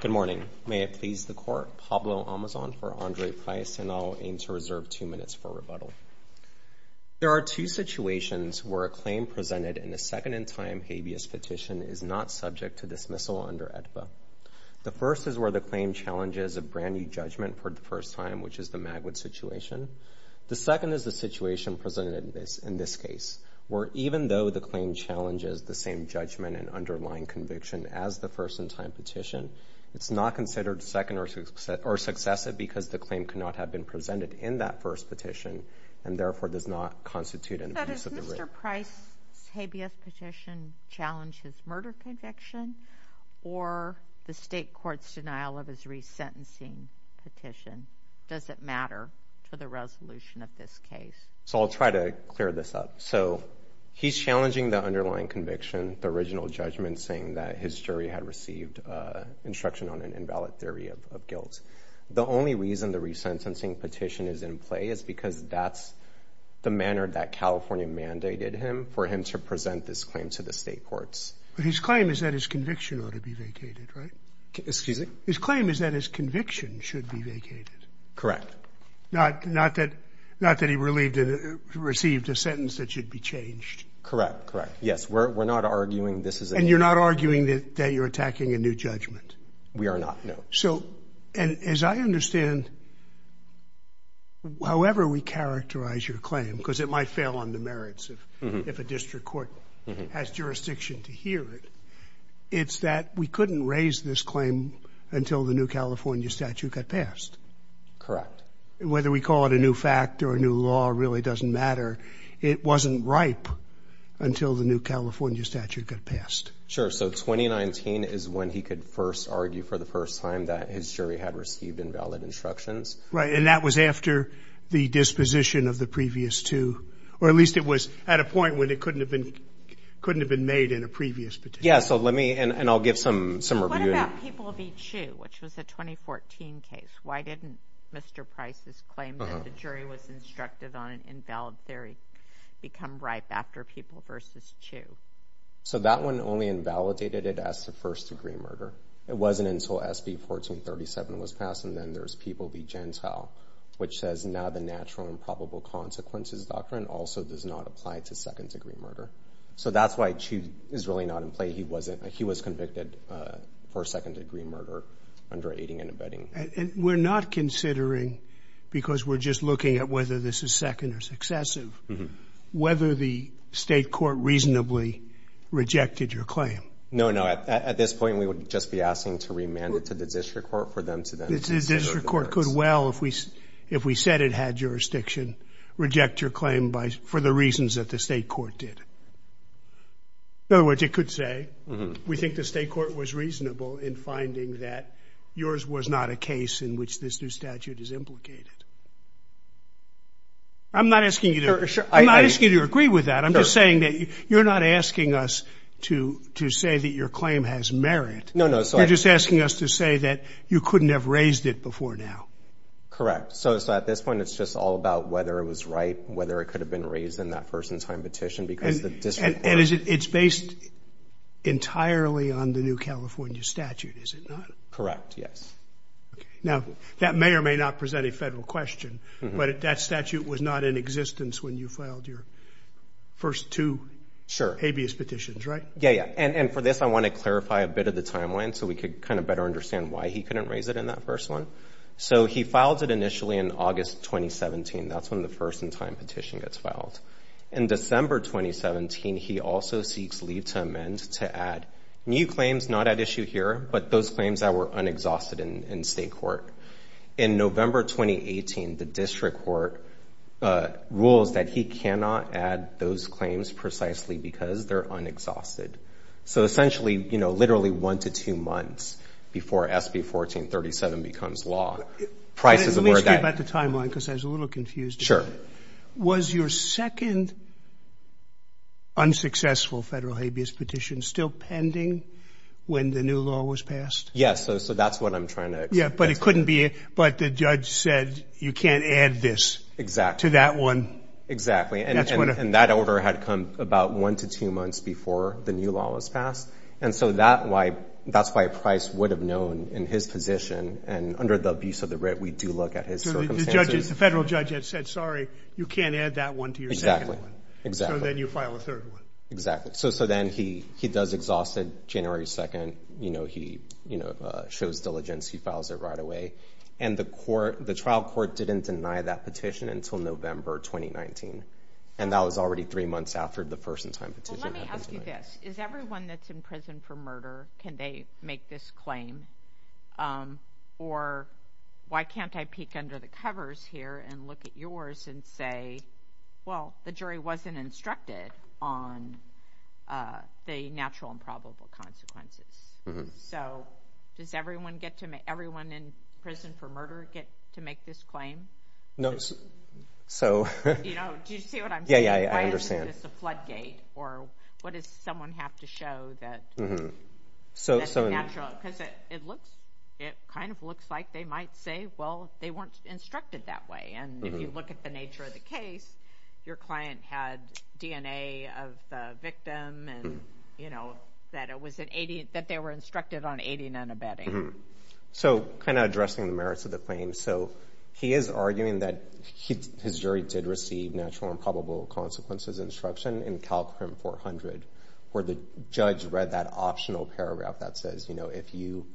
Good morning. May it please the court, Pablo Amazon for Andre Price, and I'll aim to reserve two minutes for rebuttal. There are two situations where a claim presented in a second-in-time habeas petition is not subject to dismissal under AEDPA. The first is where the claim challenges a brand-new judgment for the first time, which is the Magwood situation. The second is the situation presented in this case, where even though the claim challenges the same judgment and underlying conviction as the first-in-time petition, it's not considered second or successive because the claim cannot have been presented in that first petition and therefore does not constitute an abuse of the right. But does Mr. Price's habeas petition challenge his murder conviction or the state court's denial of his resentencing petition? Does it matter to the resolution of this case? So I'll try to clear this up. So he's challenging the underlying conviction, the original judgment, saying that his jury had received instruction on an invalid theory of guilt. The only reason the resentencing petition is in play is because that's the manner that California mandated him, for him to present this claim to the state courts. But his claim is that his conviction ought to be vacated, right? Excuse me? His claim is that his conviction should be vacated. Not that he received a sentence that should be changed. Correct, correct. Yes, we're not arguing this is a new judgment. And you're not arguing that you're attacking a new judgment? We are not, no. So, as I understand, however we characterize your claim, because it might fail on the merits of if a district court has jurisdiction to hear it, it's that we couldn't raise this claim until the new California statute got passed. Correct. Whether we call it a new fact or a new law really doesn't matter. It wasn't ripe until the new California statute got passed. Sure. So 2019 is when he could first argue for the first time that his jury had received invalid instructions. Right. And that was after the disposition of the previous two, or at least it was at a point when it couldn't have been made in a previous petition. Yeah, so let me, and I'll give some review. So what about People v. Chiu, which was a 2014 case? Why didn't Mr. Price's claim that the jury was instructed on an invalid theory become ripe after People v. Chiu? So that one only invalidated it as a first-degree murder. It wasn't until SB 1437 was passed, and then there's People v. Gentile, which says, now the natural and probable consequences doctrine also does not apply to second-degree murder. So that's why Chiu is really not in play. He was convicted for second-degree murder under aiding and abetting. And we're not considering, because we're just looking at whether this is second or successive, whether the state court reasonably rejected your claim. No, no. At this point, we would just be asking to remand it to the district court for them to then consider the merits. The district court could well, if we said it had jurisdiction, reject your claim for the reasons that the state court did. In other words, it could say, we think the state court was reasonable in finding that yours was not a case in which this new statute is implicated. I'm not asking you to agree with that. I'm just saying that you're not asking us to say that your claim has merit. No, no. You're just asking us to say that you couldn't have raised it before now. Correct. So at this point, it's just all about whether it was right, whether it could have been raised in that first-in-time petition, because the district court... It's based entirely on the new California statute, is it not? Correct. Yes. Now, that may or may not present a federal question, but that statute was not in existence when you filed your first two habeas petitions, right? Yeah, yeah. And for this, I want to clarify a bit of the timeline so we could kind of better understand why he couldn't raise it in that first one. So he filed it initially in August 2017. That's when the first-in-time petition gets filed. In December 2017, he also seeks leave to amend to add new claims not at issue here, but those claims that were unexhausted in state court. In November 2018, the district court rules that he cannot add those claims precisely because they're unexhausted. So essentially, you know, literally one to two months before SB 1437 becomes law, prices of where that... Let me speak about the timeline, because I was a little confused. Was your second unsuccessful federal habeas petition still pending when the new law was Yes. So that's what I'm trying to... Yeah, but it couldn't be... But the judge said, you can't add this to that one. And that order had come about one to two months before the new law was passed. And so that's why Price would have known in his position, and under the abuse of the writ, we do look at his circumstances. The federal judge had said, sorry, you can't add that one to your second one. So then you file a third one. Exactly. So then he does exhaust it January 2nd. You know, he, you know, shows diligence, he files it right away. And the court, the trial court didn't deny that petition until November 2019. And that was already three months after the first in time petition. Well, let me ask you this, is everyone that's in prison for murder, can they make this claim? Or why can't I peek under the covers here and look at yours and say, well, the jury wasn't instructed on the natural and probable consequences. So does everyone get to make... Everyone in prison for murder get to make this claim? No. So... You know, do you see what I'm saying? Yeah, yeah, yeah, I understand. Why is this a floodgate? Or what does someone have to show that it's a natural... Because it looks, it kind of looks like they might say, well, they weren't instructed that way. And if you look at the nature of the case, your client had DNA of the victim and, you know, that it was an 80, that they were instructed on aiding and abetting. So kind of addressing the merits of the claim. So he is arguing that his jury did receive natural and probable consequences instruction in CalCrim 400, where the judge read that optional paragraph that says, you know, if you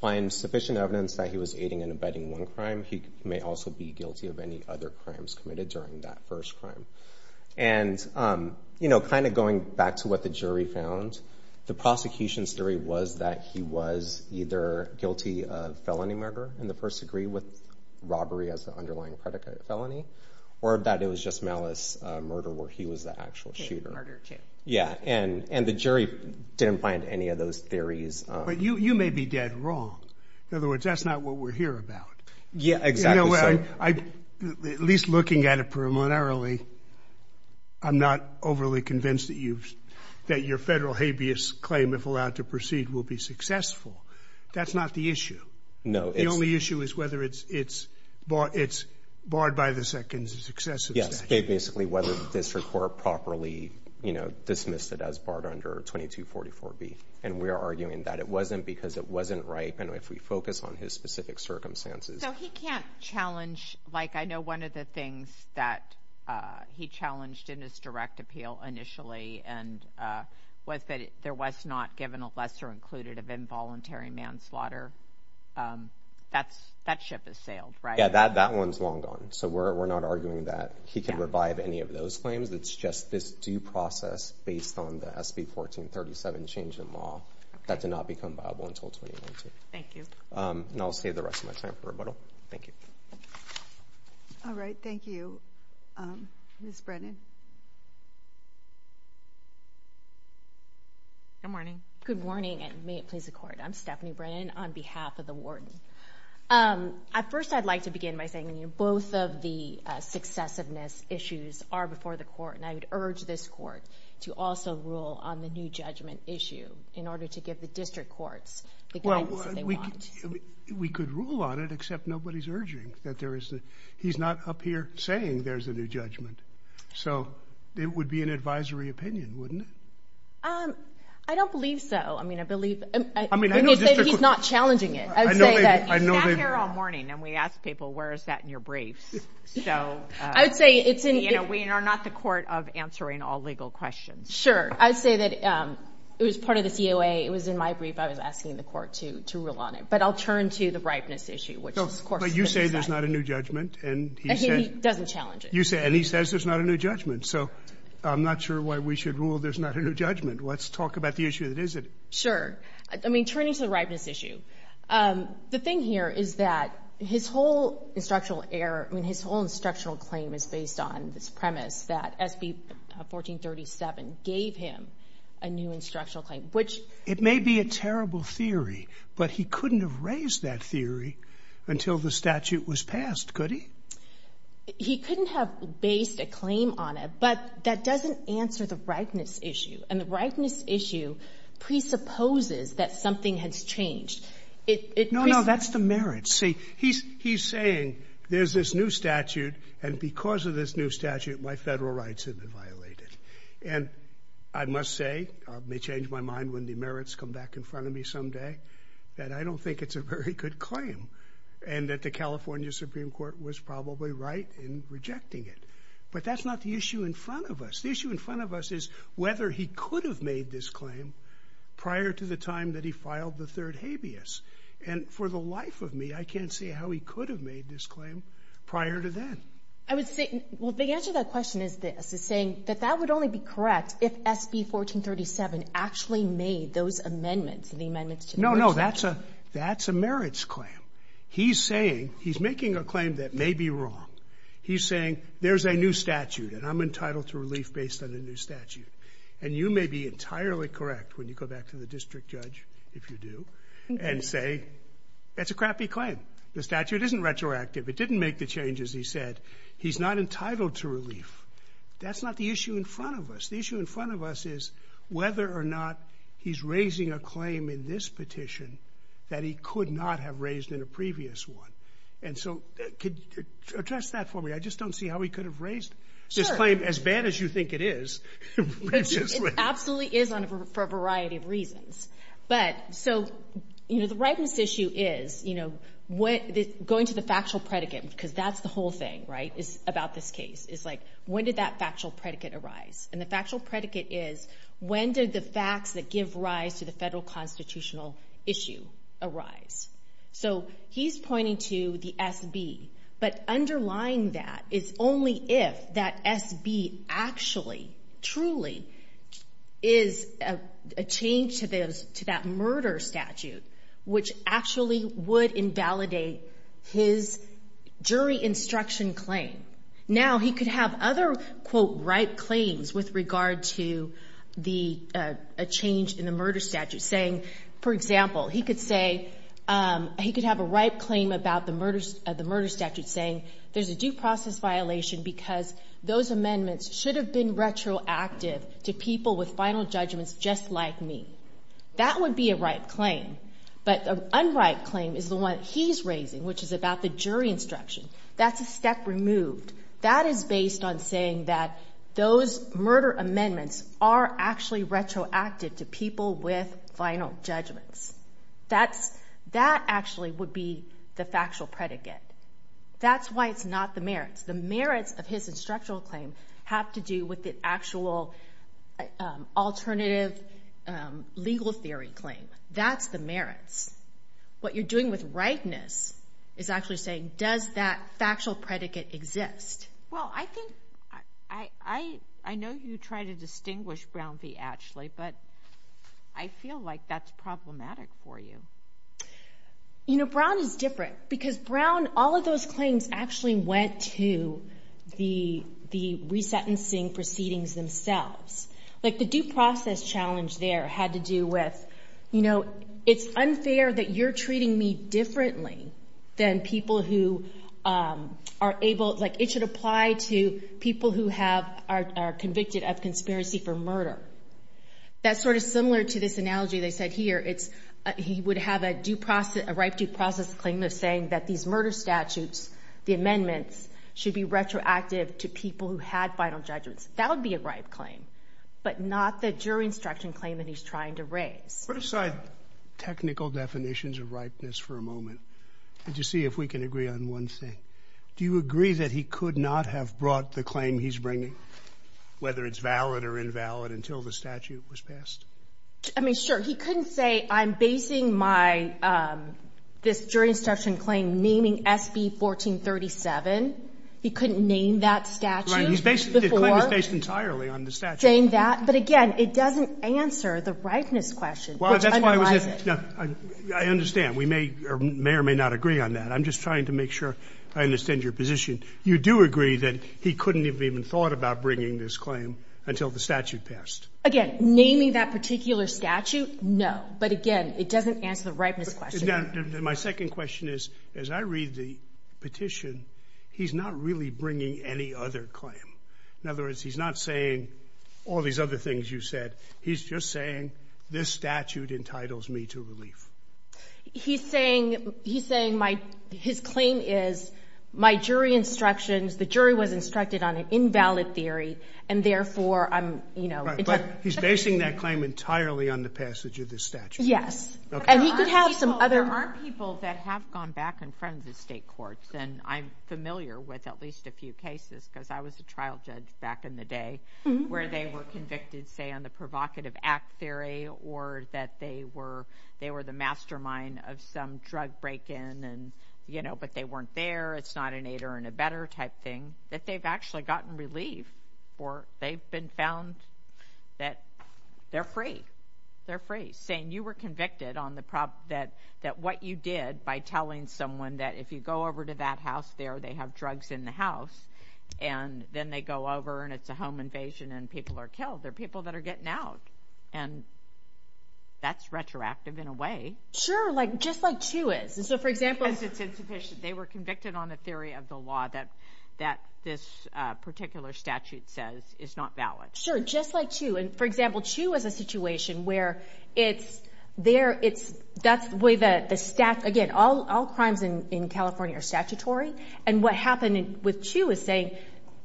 find sufficient evidence that he was aiding and abetting one crime, he may also be guilty of any other crimes committed during that first crime. And, you know, kind of going back to what the jury found, the prosecution's theory was that he was either guilty of felony murder in the first degree with robbery as the underlying predicate of felony, or that it was just malice murder where he was the actual shooter. Murder too. Yeah. And the jury didn't find any of those theories. But you may be dead wrong. In other words, that's not what we're here about. Yeah, exactly. You know, at least looking at it preliminarily, I'm not overly convinced that your federal habeas claim, if allowed to proceed, will be successful. That's not the issue. No. The only issue is whether it's barred by the second successive statute. Yes. Basically, whether the district court properly, you know, dismissed it as barred under 2244B. And we're arguing that it wasn't because it wasn't ripe, and if we focus on his specific circumstances. So he can't challenge, like, I know one of the things that he challenged in his direct appeal initially, and was that there was not given a lesser included of involuntary manslaughter. That ship has sailed, right? Yeah, that one's long gone. So we're not arguing that he can revive any of those claims. It's just this due process based on the SB 1437 change in law, that did not become viable until 2019. Thank you. And I'll save the rest of my time for rebuttal. Thank you. All right. Thank you. Ms. Brennan. Good morning. Good morning. And may it please the court. I'm Stephanie Brennan on behalf of the warden. At first, I'd like to begin by saying, you know, both of the successiveness issues are before the court. And I would urge this court to also rule on the new judgment issue, in order to give the district courts the guidance that they want. I mean, we could rule on it, except nobody's urging that there is the... He's not up here saying there's a new judgment. So it would be an advisory opinion, wouldn't it? I don't believe so. I mean, I believe... I mean, I know district courts... He's not challenging it. I would say that... I know they... He sat here all morning, and we asked people, where is that in your briefs? So... I would say it's in... You know, we are not the court of answering all legal questions. Sure. I would say that it was part of the COA. It was in my brief. I was asking the court to rule on it. But I'll turn to the ripeness issue, which, of course... But you say there's not a new judgment, and he said... He doesn't challenge it. You say... And he says there's not a new judgment. So I'm not sure why we should rule there's not a new judgment. Let's talk about the issue that is it. Sure. I mean, turning to the ripeness issue, the thing here is that his whole instructional error, I mean, his whole instructional claim is based on this premise that SB 1437 gave him a new instructional claim, which... It may be a terrible theory, but he couldn't have raised that theory until the statute was passed, could he? He couldn't have based a claim on it, but that doesn't answer the ripeness issue. And the ripeness issue presupposes that something has changed. No, no, that's the merit. See, he's saying there's this new statute, and because of this new statute, my federal rights have been violated. And I must say, it may change my mind when the merits come back in front of me someday, that I don't think it's a very good claim, and that the California Supreme Court was probably right in rejecting it. But that's not the issue in front of us. The issue in front of us is whether he could have made this claim prior to the time that he filed the third habeas. And for the life of me, I can't see how he could have made this claim prior to then. I would say, well, the answer to that question is this, is saying that that would only be correct if SB 1437 actually made those amendments, the amendments to the No, no, that's a merits claim. He's saying, he's making a claim that may be wrong. He's saying there's a new statute, and I'm entitled to relief based on the new statute. And you may be entirely correct when you go back to the district judge, if you do, and say that's a crappy claim. The statute isn't retroactive. It didn't make the changes he said. He's not entitled to relief. That's not the issue in front of us. The issue in front of us is whether or not he's raising a claim in this petition that he could not have raised in a previous one. And so, could you address that for me? I just don't see how he could have raised this claim as bad as you think it is. It absolutely is for a variety of reasons. But, so, you know, the rightness issue is, you know, going to the factual predicate, because that's the whole thing, right, about this case, is like, when did that factual predicate arise? And the factual predicate is, when did the facts that give rise to the federal constitutional issue arise? So, he's pointing to the SB. But underlying that is only if that SB actually, truly, is a change to that murder statute, which actually would invalidate his jury instruction claim. Now, he could have other, quote, ripe claims with regard to a change in the murder statute, saying, for example, he could say, he could have a ripe claim about the murder statute saying, there's a due process violation because those amendments should have been retroactive to people with final judgments just like me. That would be a ripe claim. But an unripe claim is the one he's raising, which is about the jury instruction. That's a step removed. That is based on saying that those murder amendments are actually retroactive to people with final judgments. That actually would be the factual predicate. That's why it's not the merits. The merits of his instructional claim have to do with the actual alternative legal theory claim. That's the merits. What you're doing with ripeness is actually saying, does that factual predicate exist? Well, I think, I know you try to distinguish Brown v. Ashley, but I feel like that's problematic for you. Brown is different because Brown, all of those claims actually went to the resentencing proceedings themselves. The due process challenge there had to do with, it's unfair that you're treating me differently than people who are able, it should apply to people who are convicted of conspiracy for murder. That's sort of similar to this analogy they said here. He would have a ripe due process claim of saying that these murder statutes, the amendments, should be retroactive to people who had final judgments. That would be a ripe claim, but not the jury instruction claim that he's trying to raise. Put aside technical definitions of ripeness for a moment and just see if we can agree on one thing. Do you agree that he could not have brought the claim he's bringing, whether it's valid or invalid, until the statute was passed? I mean, sure. He couldn't say, I'm basing my, this jury instruction claim naming SB 1437. He couldn't name that statute before? The claim is based entirely on the statute. But again, it doesn't answer the ripeness question, which underlies it. I understand. We may or may or may not agree on that. I'm just trying to make sure I understand your position. You do agree that he couldn't have even thought about bringing this claim until the statute passed? Again, naming that particular statute, no. But again, it doesn't answer the ripeness question. My second question is, as I read the petition, he's not really bringing any other claim. In other words, he's not saying all these other things you said. He's just saying this statute entitles me to relief. He's saying my, his claim is my jury instructions, the jury was instructed on an invalid theory, and therefore I'm, you know. But he's basing that claim entirely on the passage of this statute. Yes. And he could have some other. There are people that have gone back and front in the state courts, and I'm familiar with at least a few cases, because I was a trial judge back in the day, where they were convicted, say, on the provocative act theory, or that they were, they were the mastermind of some drug break-in, and, you know, but they weren't there, it's not an aid or an abetter type thing, that they've actually gotten relief for, they've been found that they're free, they're free. Saying you were convicted on the, that what you did by telling someone that if you go over to that house there, they have drugs in the house, and then they go over and it's a home invasion and people are killed. They're people that are getting out. And that's retroactive in a way. Sure, like, just like CHU is. So, for example. Because it's insufficient. They were convicted on the theory of the law that, that this particular statute says is not valid. Sure, just like CHU. And, for example, CHU is a situation where it's there, it's, that's the way that the stat, again, all crimes in California are statutory. And what happened with CHU is saying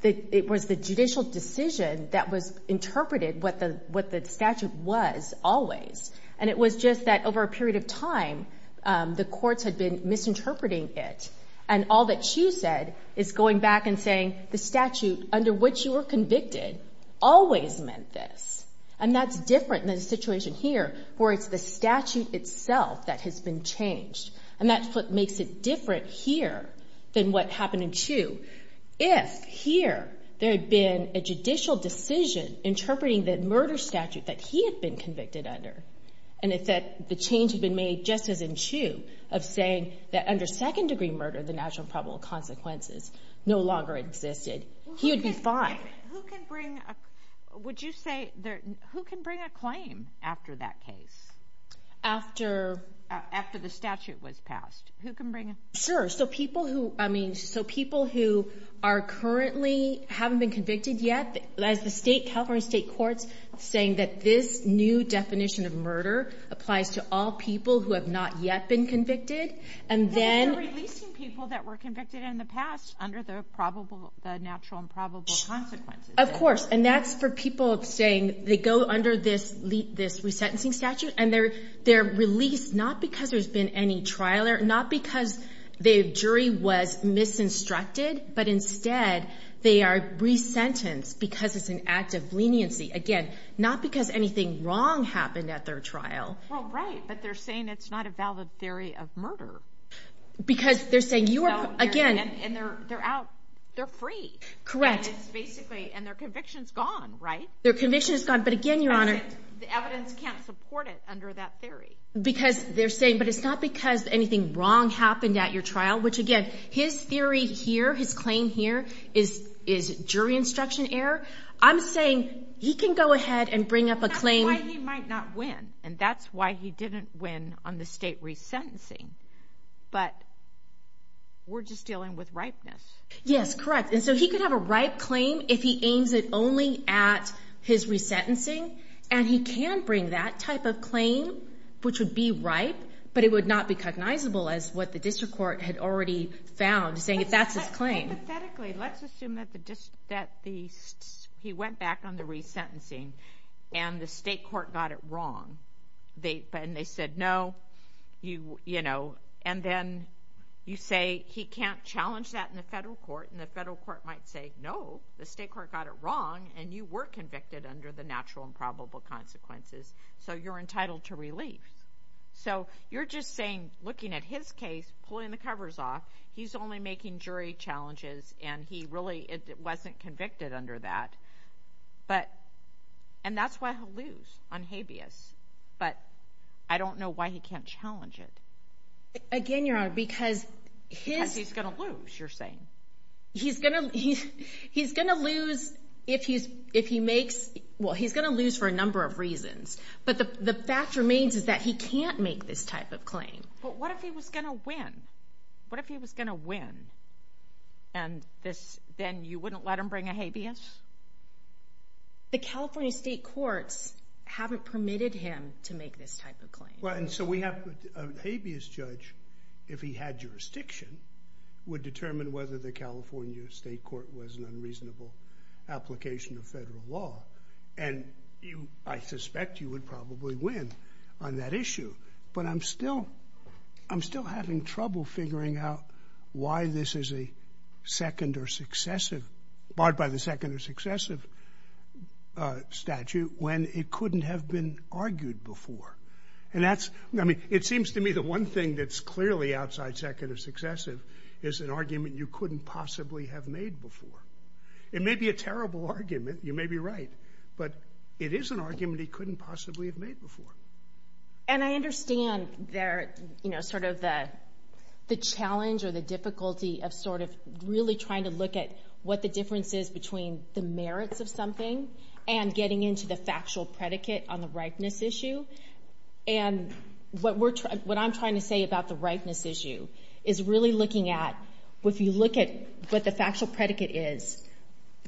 that it was the judicial decision that was interpreted what the statute was always. And it was just that over a period of time, the courts had been misinterpreting it. And all that CHU said is going back and saying, the statute under which you were convicted always meant this. And that's different than the situation here, where it's the statute itself that has been changed. And that's what makes it different here than what happened in CHU. If, here, there had been a judicial decision interpreting the murder statute that he had been convicted under, and if that, the change had been made just as in CHU, of saying that under second-degree murder, the natural and probable consequences no longer existed, he would be fine. Who can bring, would you say, who can bring a claim after that case? After? After the statute was passed. Who can bring a? Sure, so people who, I mean, so people who are currently, haven't been convicted yet, as the state, California state courts saying that this new definition of murder applies to all people who have not yet been convicted, and then... They're releasing people that were convicted in the past under the natural and probable consequences. Of course, and that's for people saying, they go under this resentencing statute, and they're released not because there's been any trial, not because the jury was misinstructed, but instead, they are resentenced because it's an act of leniency. Again, not because anything wrong happened at their trial. Well, right, but they're saying it's not a valid theory of murder. Because they're saying you are, again... And they're out, they're free. Correct. And it's basically, and their conviction's gone, right? Their conviction's gone, but again, Your Honor... Because the evidence can't support it under that theory. Because they're saying, but it's not because anything wrong happened at your trial, which again, his theory here, his claim here, is jury instruction error. I'm saying he can go ahead and bring up a claim... That's why he might not win, and that's why he didn't win on the state resentencing. But we're just dealing with ripeness. Yes, correct, and so he could have a ripe claim if he aims it only at his resentencing, and he can bring that type of claim, which would be ripe, but it would not be cognizable as what the district court had already found, saying that's his claim. Hypothetically, let's assume that he went back on the resentencing, and the state court got it wrong, and they said no, you know, and then you say he can't challenge that in the federal court, and the federal court might say no, the state court got it wrong, and you were convicted under the natural and probable consequences, so you're entitled to relief. So you're just saying, looking at his case, pulling the covers off, he's only making jury challenges, and he really wasn't convicted under that, and that's why he'll lose on habeas, but I don't know why he can't challenge it. Again, Your Honor, because... Because he's going to lose, you're saying. He's going to lose if he makes, well, he's going to lose for a number of reasons, but the fact remains is that he can't make this type of claim. But what if he was going to win? What if he was going to win, and then you wouldn't let him bring a habeas? The California state courts haven't permitted him to make this type of claim. Well, and so we have a habeas judge, if he had jurisdiction, would determine whether the California state court was an unreasonable application of federal law, and I suspect you would probably win on that issue. But I'm still... I'm still having trouble figuring out why this is a second or successive... barred by the second or successive statute when it couldn't have been argued before. And that's... I mean, it seems to me the one thing that's clearly outside second or successive is an argument you couldn't possibly have made before. It may be a terrible argument, you may be right, but it is an argument he couldn't possibly have made before. And I understand there, you know, sort of the challenge or the difficulty of sort of really trying to look at what the difference is between the merits of something and getting into the factual predicate on the ripeness issue. And what I'm trying to say about the ripeness issue is really looking at, if you look at what the factual predicate is,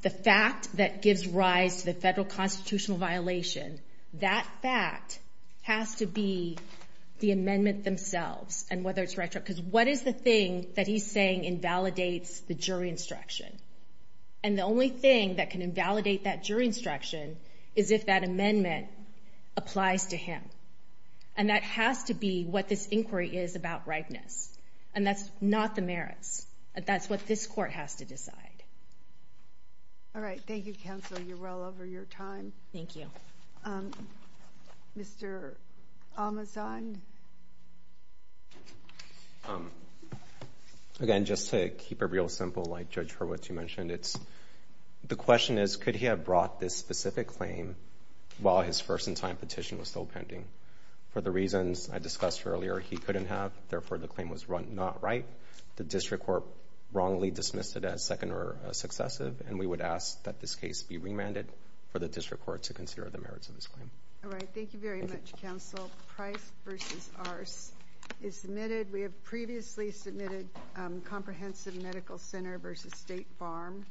the fact that gives rise to the federal constitutional violation, that fact has to be the amendment themselves, and whether it's right or wrong. Because what is the thing that he's saying invalidates the jury instruction? And the only thing that can invalidate that jury instruction is if that amendment applies to him. And that has to be what this inquiry is about ripeness. And that's not the merits. That's what this court has to decide. All right, thank you, Counsel. You're well over your time. Thank you. Mr. Amazon? Again, just to keep it real simple, like Judge Hurwitz, you mentioned, the question is, could he have brought this specific claim while his first-in-time petition was still pending? For the reasons I discussed earlier, he couldn't have. Therefore, the claim was not right. The district court wrongly dismissed it as second or successive. And we would ask that this case be remanded for the district court to consider the merits of this claim. All right, thank you very much, Counsel. Price v. Arce is submitted. We have previously submitted Comprehensive Medical Center v. State Farm. Thank you.